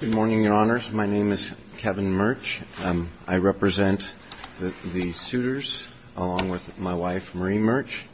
Good morning, Your Honors. My name is Kevin Murch. I represent the suitors along with my wife, Marie Murch.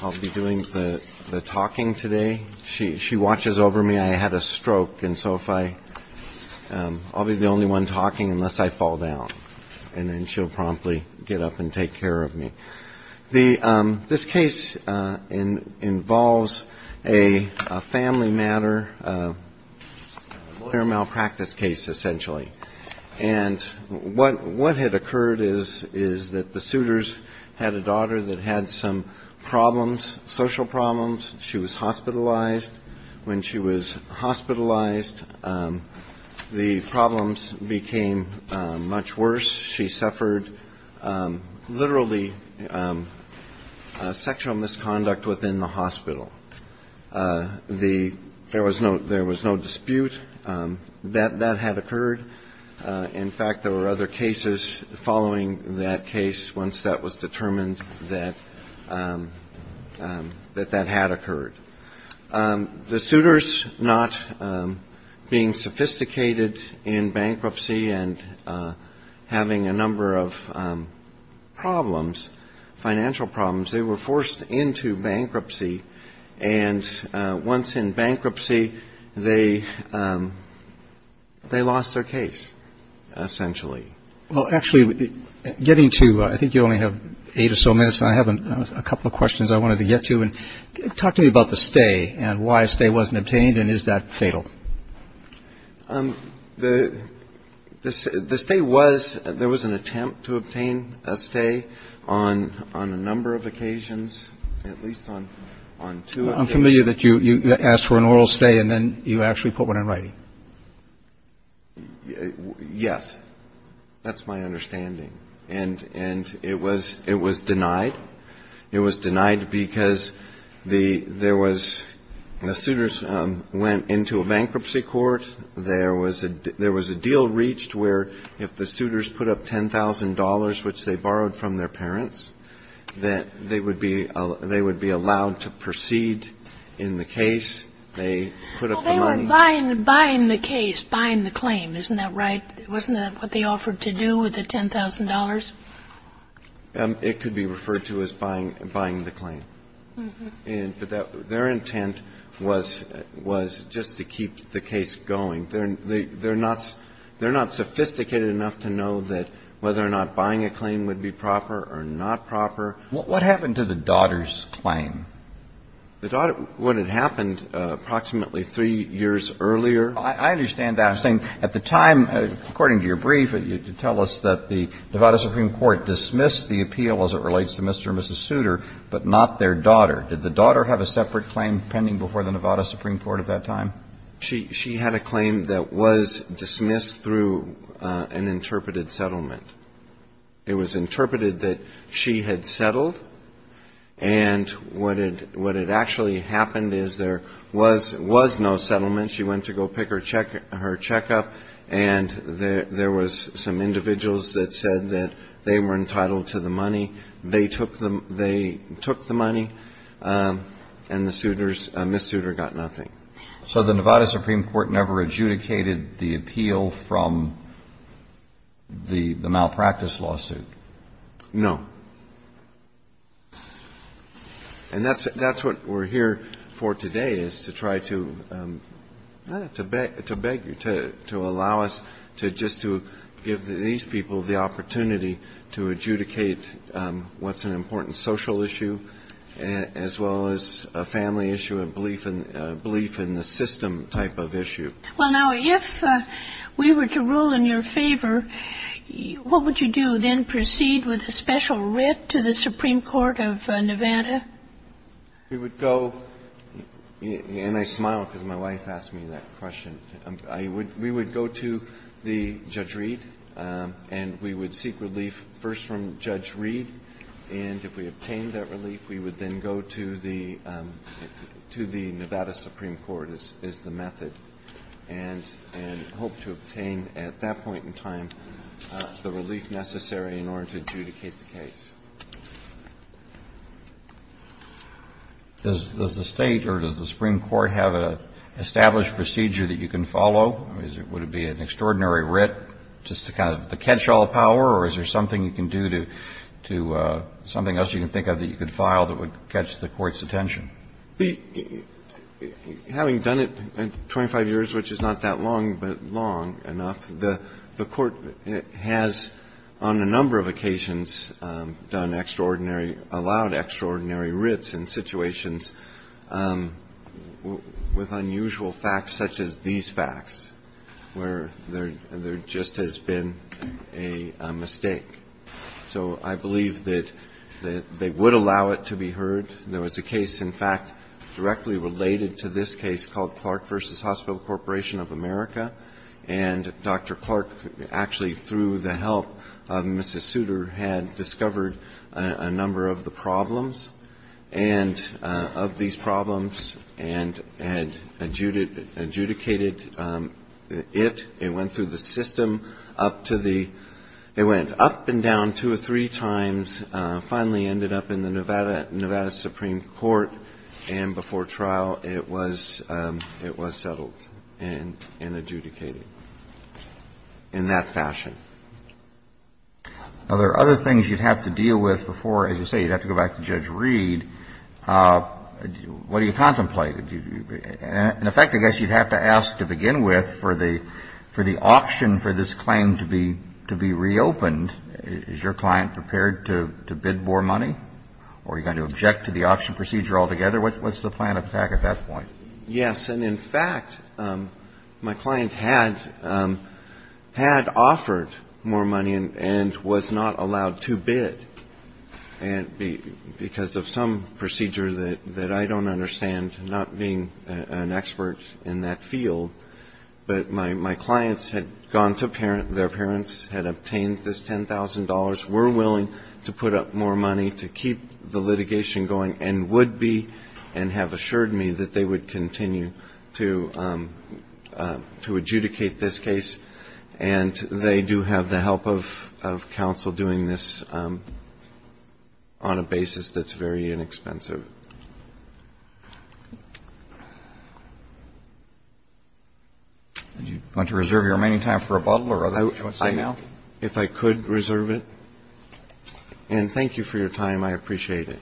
I'll be doing the talking today. She watches over me. I had a stroke, and so I'll be the only one talking unless I fall down, and then she'll promptly get up and take care of me. This case involves a family matter, a malpractice case, essentially. And what had occurred is that the suitors had a daughter that had some problems, social problems. She was hospitalized. When she was hospitalized, the problems became much worse. She suffered literally sexual misconduct within the hospital. There was no dispute that that had occurred. In fact, there were other cases following that case once that was determined that that had occurred. The suitors, not being sophisticated in bankruptcy and having a number of problems, financial problems, they were forced into bankruptcy. And once in bankruptcy, they lost their case, essentially. Well, actually, getting to, I think you only have eight or so minutes, and I have a couple of questions I wanted to get to. Talk to me about the stay and why a stay wasn't obtained, and is that fatal? The stay was, there was an attempt to obtain a stay on a number of occasions, at least on two occasions. Well, I'm familiar that you asked for an oral stay, and then you actually put one in writing. Yes. That's my understanding. And it was denied. It was denied because there was, the suitors went into a bankruptcy court. There was a deal reached where if the suitors put up $10,000, which they borrowed from their parents, that they would be allowed to proceed in the case. They put up the money. Buying the case, buying the claim, isn't that right? Wasn't that what they offered to do with the $10,000? It could be referred to as buying the claim. Mm-hmm. And their intent was just to keep the case going. They're not sophisticated enough to know that whether or not buying a claim would be proper or not proper. What happened to the daughter's claim? The daughter, what had happened approximately three years earlier. I understand that. I'm saying at the time, according to your brief, you tell us that the Nevada Supreme Court dismissed the appeal as it relates to Mr. and Mrs. Souter, but not their daughter. Did the daughter have a separate claim pending before the Nevada Supreme Court at that time? She had a claim that was dismissed through an interpreted settlement. It was interpreted that she had settled, and what had actually happened is there was no settlement. She went to go pick her check up, and there was some individuals that said that they were entitled to the money. They took the money, and the Souters, Ms. Souter, got nothing. So the Nevada Supreme Court never adjudicated the appeal from the malpractice lawsuit? No. And that's what we're here for today, is to try to beg you, to allow us to just to give these people the opportunity to adjudicate what's an important social issue, as well as a family issue, a belief in the system type of issue. Well, now, if we were to rule in your favor, what would you do? Then proceed with a special writ to the Supreme Court of Nevada? We would go, and I smile because my wife asked me that question. We would go to Judge Reed, and we would seek relief first from Judge Reed, and if we obtained that relief, we would then go to the Nevada Supreme Court, is the method, and hope to obtain, at that point in time, the relief necessary in order to adjudicate the case. Does the State or does the Supreme Court have an established procedure that you can follow? Would it be an extraordinary writ just to kind of catch all power, or is there something you can do to something else you can think of that you can file that would catch the Court's attention? Having done it 25 years, which is not that long, but long enough, the Court has, on a number of occasions, done extraordinary, allowed extraordinary writs in situations with unusual facts, such as these facts, where there just has been a mistake. So I believe that they would allow it to be heard. There was a case, in fact, directly related to this case called Clark v. Hospital Corporation of America, and Dr. Clark actually, through the help of Mrs. Souter, had discovered a number of the problems and of these problems and adjudicated it. It went through the system up to the they went up and down two or three times, finally ended up in the Nevada Supreme Court, and before trial it was settled and adjudicated in that fashion. Now, there are other things you'd have to deal with before, as you say, you'd have to go back to Judge Reed. What do you contemplate? In effect, I guess you'd have to ask to begin with, for the option for this claim to be reopened, is your client prepared to bid more money, or are you going to object to the option procedure altogether? What's the plan of attack at that point? Yes. And in fact, my client had offered more money and was not allowed to bid, because of some procedure that I don't understand, not being an expert in that field. But my clients had gone to parents, their parents had obtained this $10,000, were willing to put up more money to keep the litigation going, and would be, and have assured me that they would continue to adjudicate this case. And they do have the help of counsel doing this on a basis that's very inexpensive. Would you like to reserve your remaining time for rebuttal, or is that what you want to say now? I would, if I could reserve it. And thank you for your time. I appreciate it.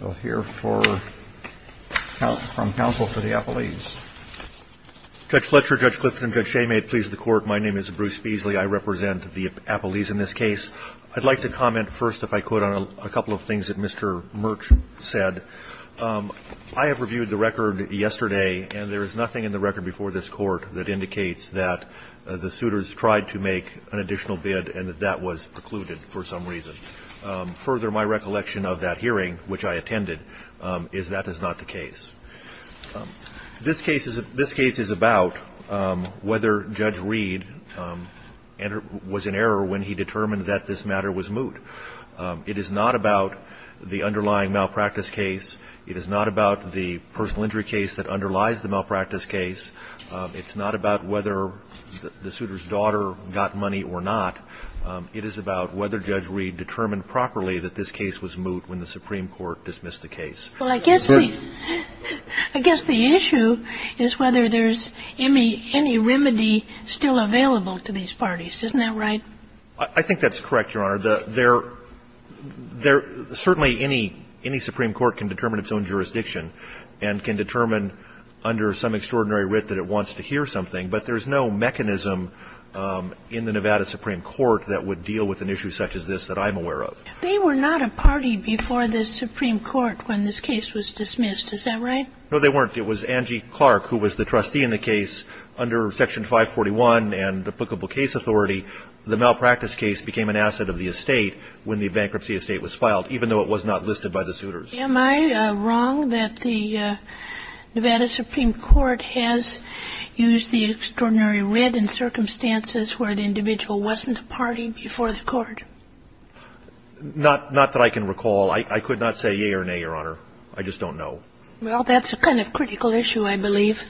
We'll hear from counsel for the Appellees. Judge Fletcher, Judge Clifton, and Judge Shea, may it please the Court, my name is Bruce Feasley. I represent the Appellees in this case. I'd like to comment first, if I could, on a couple of things that Mr. Murch said. I have reviewed the record yesterday, and there is nothing in the record before this Court that indicates that the suitors tried to make an additional bid and that that was precluded for some reason. Further, my recollection of that hearing, which I attended, is that is not the case. This case is about whether Judge Reed was in error when he determined that this matter was moot. It is not about the underlying malpractice case. It is not about the personal injury case that underlies the malpractice case. It's not about whether the suitor's daughter got money or not. It is about whether Judge Reed determined properly that this case was moot when the Supreme Court dismissed the case. Well, I guess the issue is whether there's any remedy still available to these parties. Isn't that right? I think that's correct, Your Honor. There certainly any Supreme Court can determine its own jurisdiction and can determine under some extraordinary writ that it wants to hear something, but there's no mechanism in the Nevada Supreme Court that would deal with an issue such as this that I'm aware of. They were not a party before the Supreme Court when this case was dismissed. Is that right? No, they weren't. It was Angie Clark who was the trustee in the case under Section 541 and applicable case authority. The malpractice case became an asset of the estate when the bankruptcy estate was filed, even though it was not listed by the suitors. Am I wrong that the Nevada Supreme Court has used the extraordinary writ in circumstances where the individual wasn't a party before the court? Not that I can recall. I could not say yea or nay, Your Honor. I just don't know. Well, that's a kind of critical issue, I believe.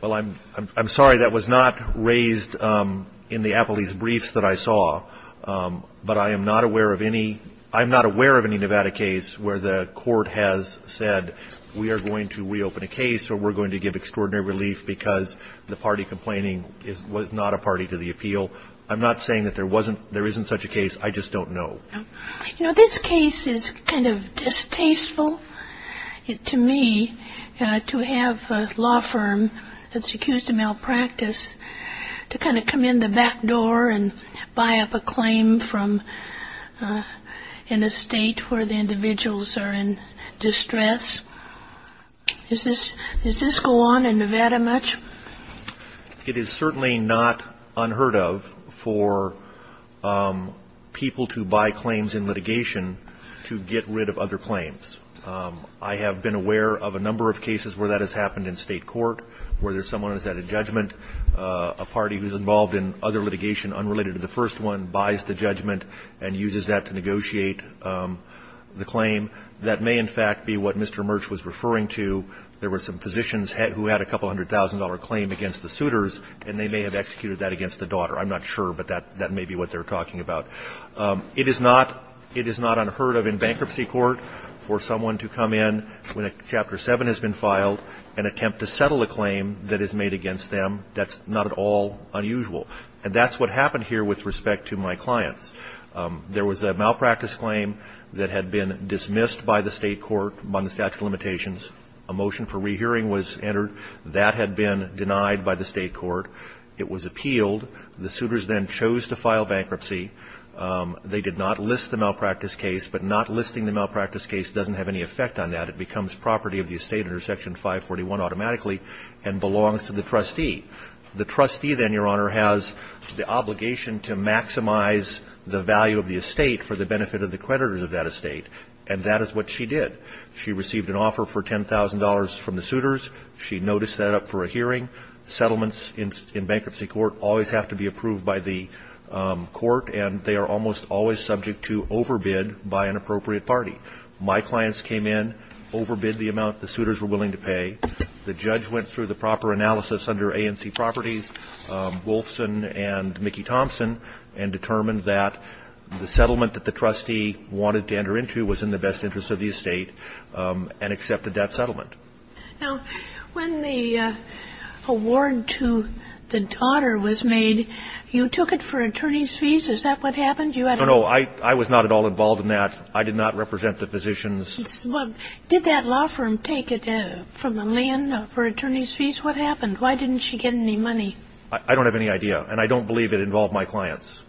Well, I'm sorry. That was not raised in the appellee's briefs that I saw, but I am not aware of any ñ I'm not aware of any Nevada case where the court has said we are going to reopen a case or we're going to give extraordinary relief because the party complaining was not a party to the appeal. I'm not saying that there wasn't ñ there isn't such a case. I just don't know. You know, this case is kind of distasteful to me, to have a law firm that's accused of malpractice to kind of come in the back door and buy up a claim from an estate where the individuals are in distress. Does this go on in Nevada much? It is certainly not unheard of for people to buy claims in litigation to get rid of other claims. I have been aware of a number of cases where that has happened in state court, where there's someone who's at a judgment, a party who's involved in other litigation unrelated to the first one, buys the judgment and uses that to negotiate the claim. That may, in fact, be what Mr. Murch was referring to. There were some physicians who had a couple hundred thousand dollar claim against the suitors, and they may have executed that against the daughter. I'm not sure, but that may be what they're talking about. It is not unheard of in bankruptcy court for someone to come in when a Chapter 7 has been filed and attempt to settle a claim that is made against them. That's not at all unusual. And that's what happened here with respect to my clients. There was a malpractice claim that had been dismissed by the state court on the statute of limitations. A motion for rehearing was entered. That had been denied by the state court. It was appealed. The suitors then chose to file bankruptcy. They did not list the malpractice case, but not listing the malpractice case doesn't have any effect on that. It becomes property of the estate under Section 541 automatically and belongs to the trustee. The trustee then, Your Honor, has the obligation to maximize the value of the estate for the benefit of the creditors of that estate, and that is what she did. She received an offer for $10,000 from the suitors. She noticed that up for a hearing. Settlements in bankruptcy court always have to be approved by the court, and they are almost always subject to overbid by an appropriate party. My clients came in, overbid the amount the suitors were willing to pay. The judge went through the proper analysis under ANC Properties, Wolfson and Mickey Thompson, and determined that the settlement that the trustee wanted to enter into was in the best interest of the estate and accepted that settlement. Now, when the award to the daughter was made, you took it for attorney's fees. Is that what happened? No, no. I was not at all involved in that. I did not represent the physicians. Well, did that law firm take it from the land for attorney's fees? What happened? Why didn't she get any money? I don't have any idea, and I don't believe it involved my clients.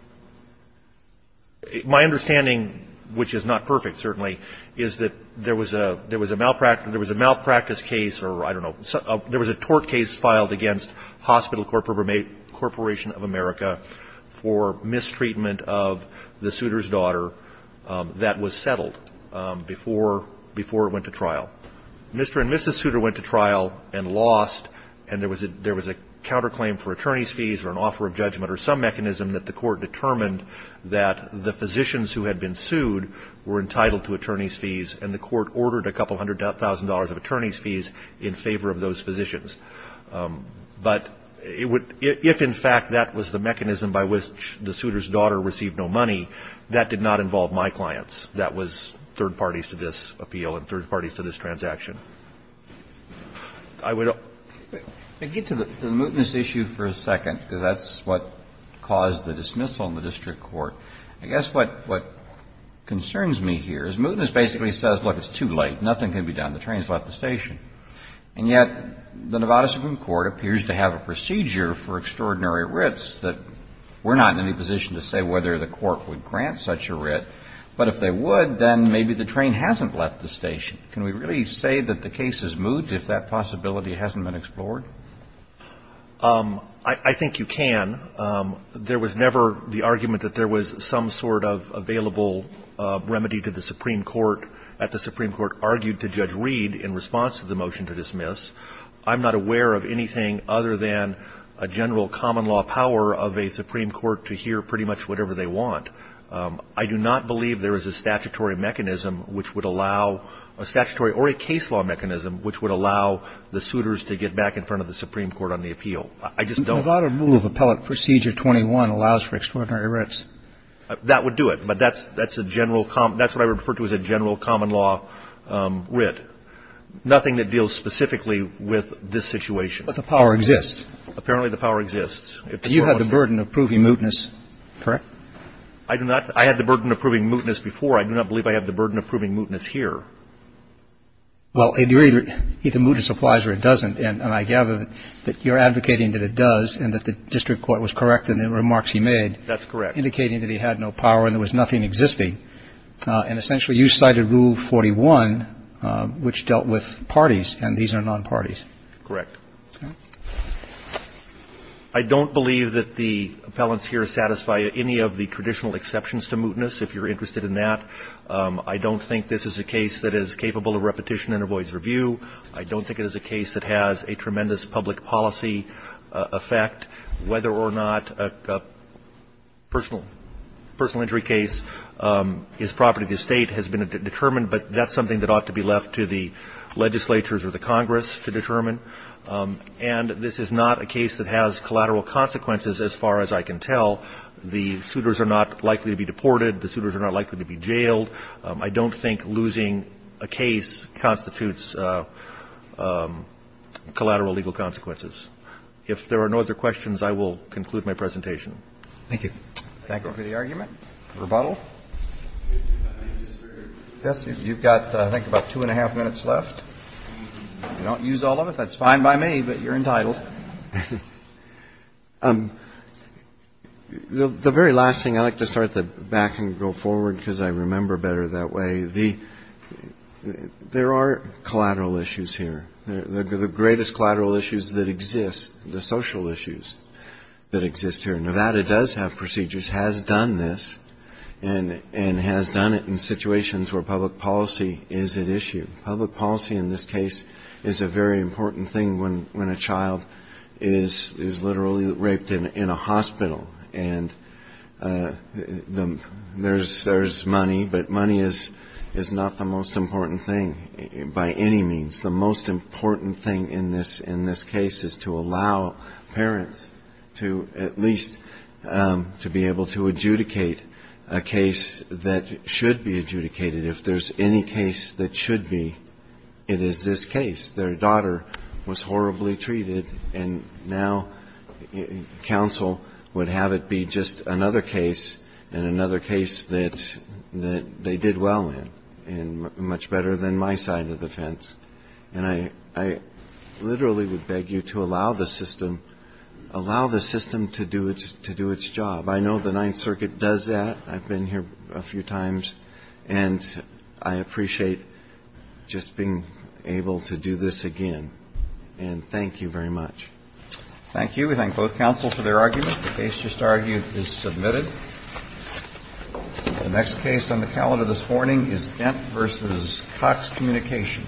My understanding, which is not perfect, certainly, is that there was a malpractice case, or I don't know, there was a tort case filed against Hospital Corporation of America for mistreatment of the suitor's daughter that was settled before it went to trial. Mr. and Mrs. Souter went to trial and lost, and there was a counterclaim for attorney's fees, and the court determined that the physicians who had been sued were entitled to attorney's fees, and the court ordered a couple hundred thousand dollars of attorney's fees in favor of those physicians. But if, in fact, that was the mechanism by which the suitor's daughter received no money, that did not involve my clients. That was third parties to this appeal and third parties to this transaction. I would hope. Kennedy. To get to the mootness issue for a second, because that's what caused the dismissal in the district court, I guess what concerns me here is mootness basically says, look, it's too late, nothing can be done, the train has left the station. And yet, the Nevada Supreme Court appears to have a procedure for extraordinary writs that we're not in any position to say whether the court would grant such a writ, but if they would, then maybe the train hasn't left the station. Can we really say that the case is moot if that possibility hasn't been explored? I think you can. There was never the argument that there was some sort of available remedy to the Supreme Court at the Supreme Court argued to Judge Reed in response to the motion to dismiss. I'm not aware of anything other than a general common law power of a Supreme Court to hear pretty much whatever they want. I do not believe there is a statutory mechanism which would allow a statutory or a case law mechanism which would allow the suitors to get back in front of the Supreme Court on the appeal. I just don't. The Nevada Rule of Appellate Procedure 21 allows for extraordinary writs. That would do it. But that's a general common law. That's what I refer to as a general common law writ. Nothing that deals specifically with this situation. But the power exists. Apparently, the power exists. And you have the burden of proving mootness, correct? I do not. I had the burden of proving mootness before. I do not believe I have the burden of proving mootness here. Well, either mootness applies or it doesn't. And I gather that you're advocating that it does and that the district court was correct in the remarks he made. That's correct. Indicating that he had no power and there was nothing existing. And essentially, you cited Rule 41, which dealt with parties, and these are nonparties. Correct. I don't believe that the appellants here satisfy any of the traditional exceptions to mootness, if you're interested in that. I don't think this is a case that is capable of repetition and avoids review. I don't think it is a case that has a tremendous public policy effect. Whether or not a personal injury case is property of the State has been determined, but that's something that ought to be left to the legislatures or the Congress to determine. And this is not a case that has collateral consequences, as far as I can tell. The suitors are not likely to be deported. The suitors are not likely to be jailed. I don't think losing a case constitutes collateral legal consequences. If there are no other questions, I will conclude my presentation. Thank you. Thank you for the argument. Rebuttal. Yes, you've got, I think, about two and a half minutes left. If you don't use all of it, that's fine by me, but you're entitled. The very last thing, I'd like to start at the back and go forward because I remember better that way. There are collateral issues here. The greatest collateral issues that exist, the social issues that exist here. Nevada does have procedures, has done this, and has done it in situations where public policy is at issue. Public policy in this case is a very important thing when a child is literally raped in a hospital. And there's money, but money is not the most important thing by any means. The most important thing in this case is to allow parents to at least to be able to adjudicate a case that should be adjudicated. If there's any case that should be, it is this case. Their daughter was horribly treated, and now counsel would have it be just another case and another case that they did well in and much better than my side of the fence. And I literally would beg you to allow the system to do its job. I know the Ninth Circuit does that. I've been here a few times, and I appreciate just being able to do this again. And thank you very much. Thank you. We thank both counsel for their argument. The case just argued is submitted. The next case on the calendar this morning is Dent v. Cox Communication.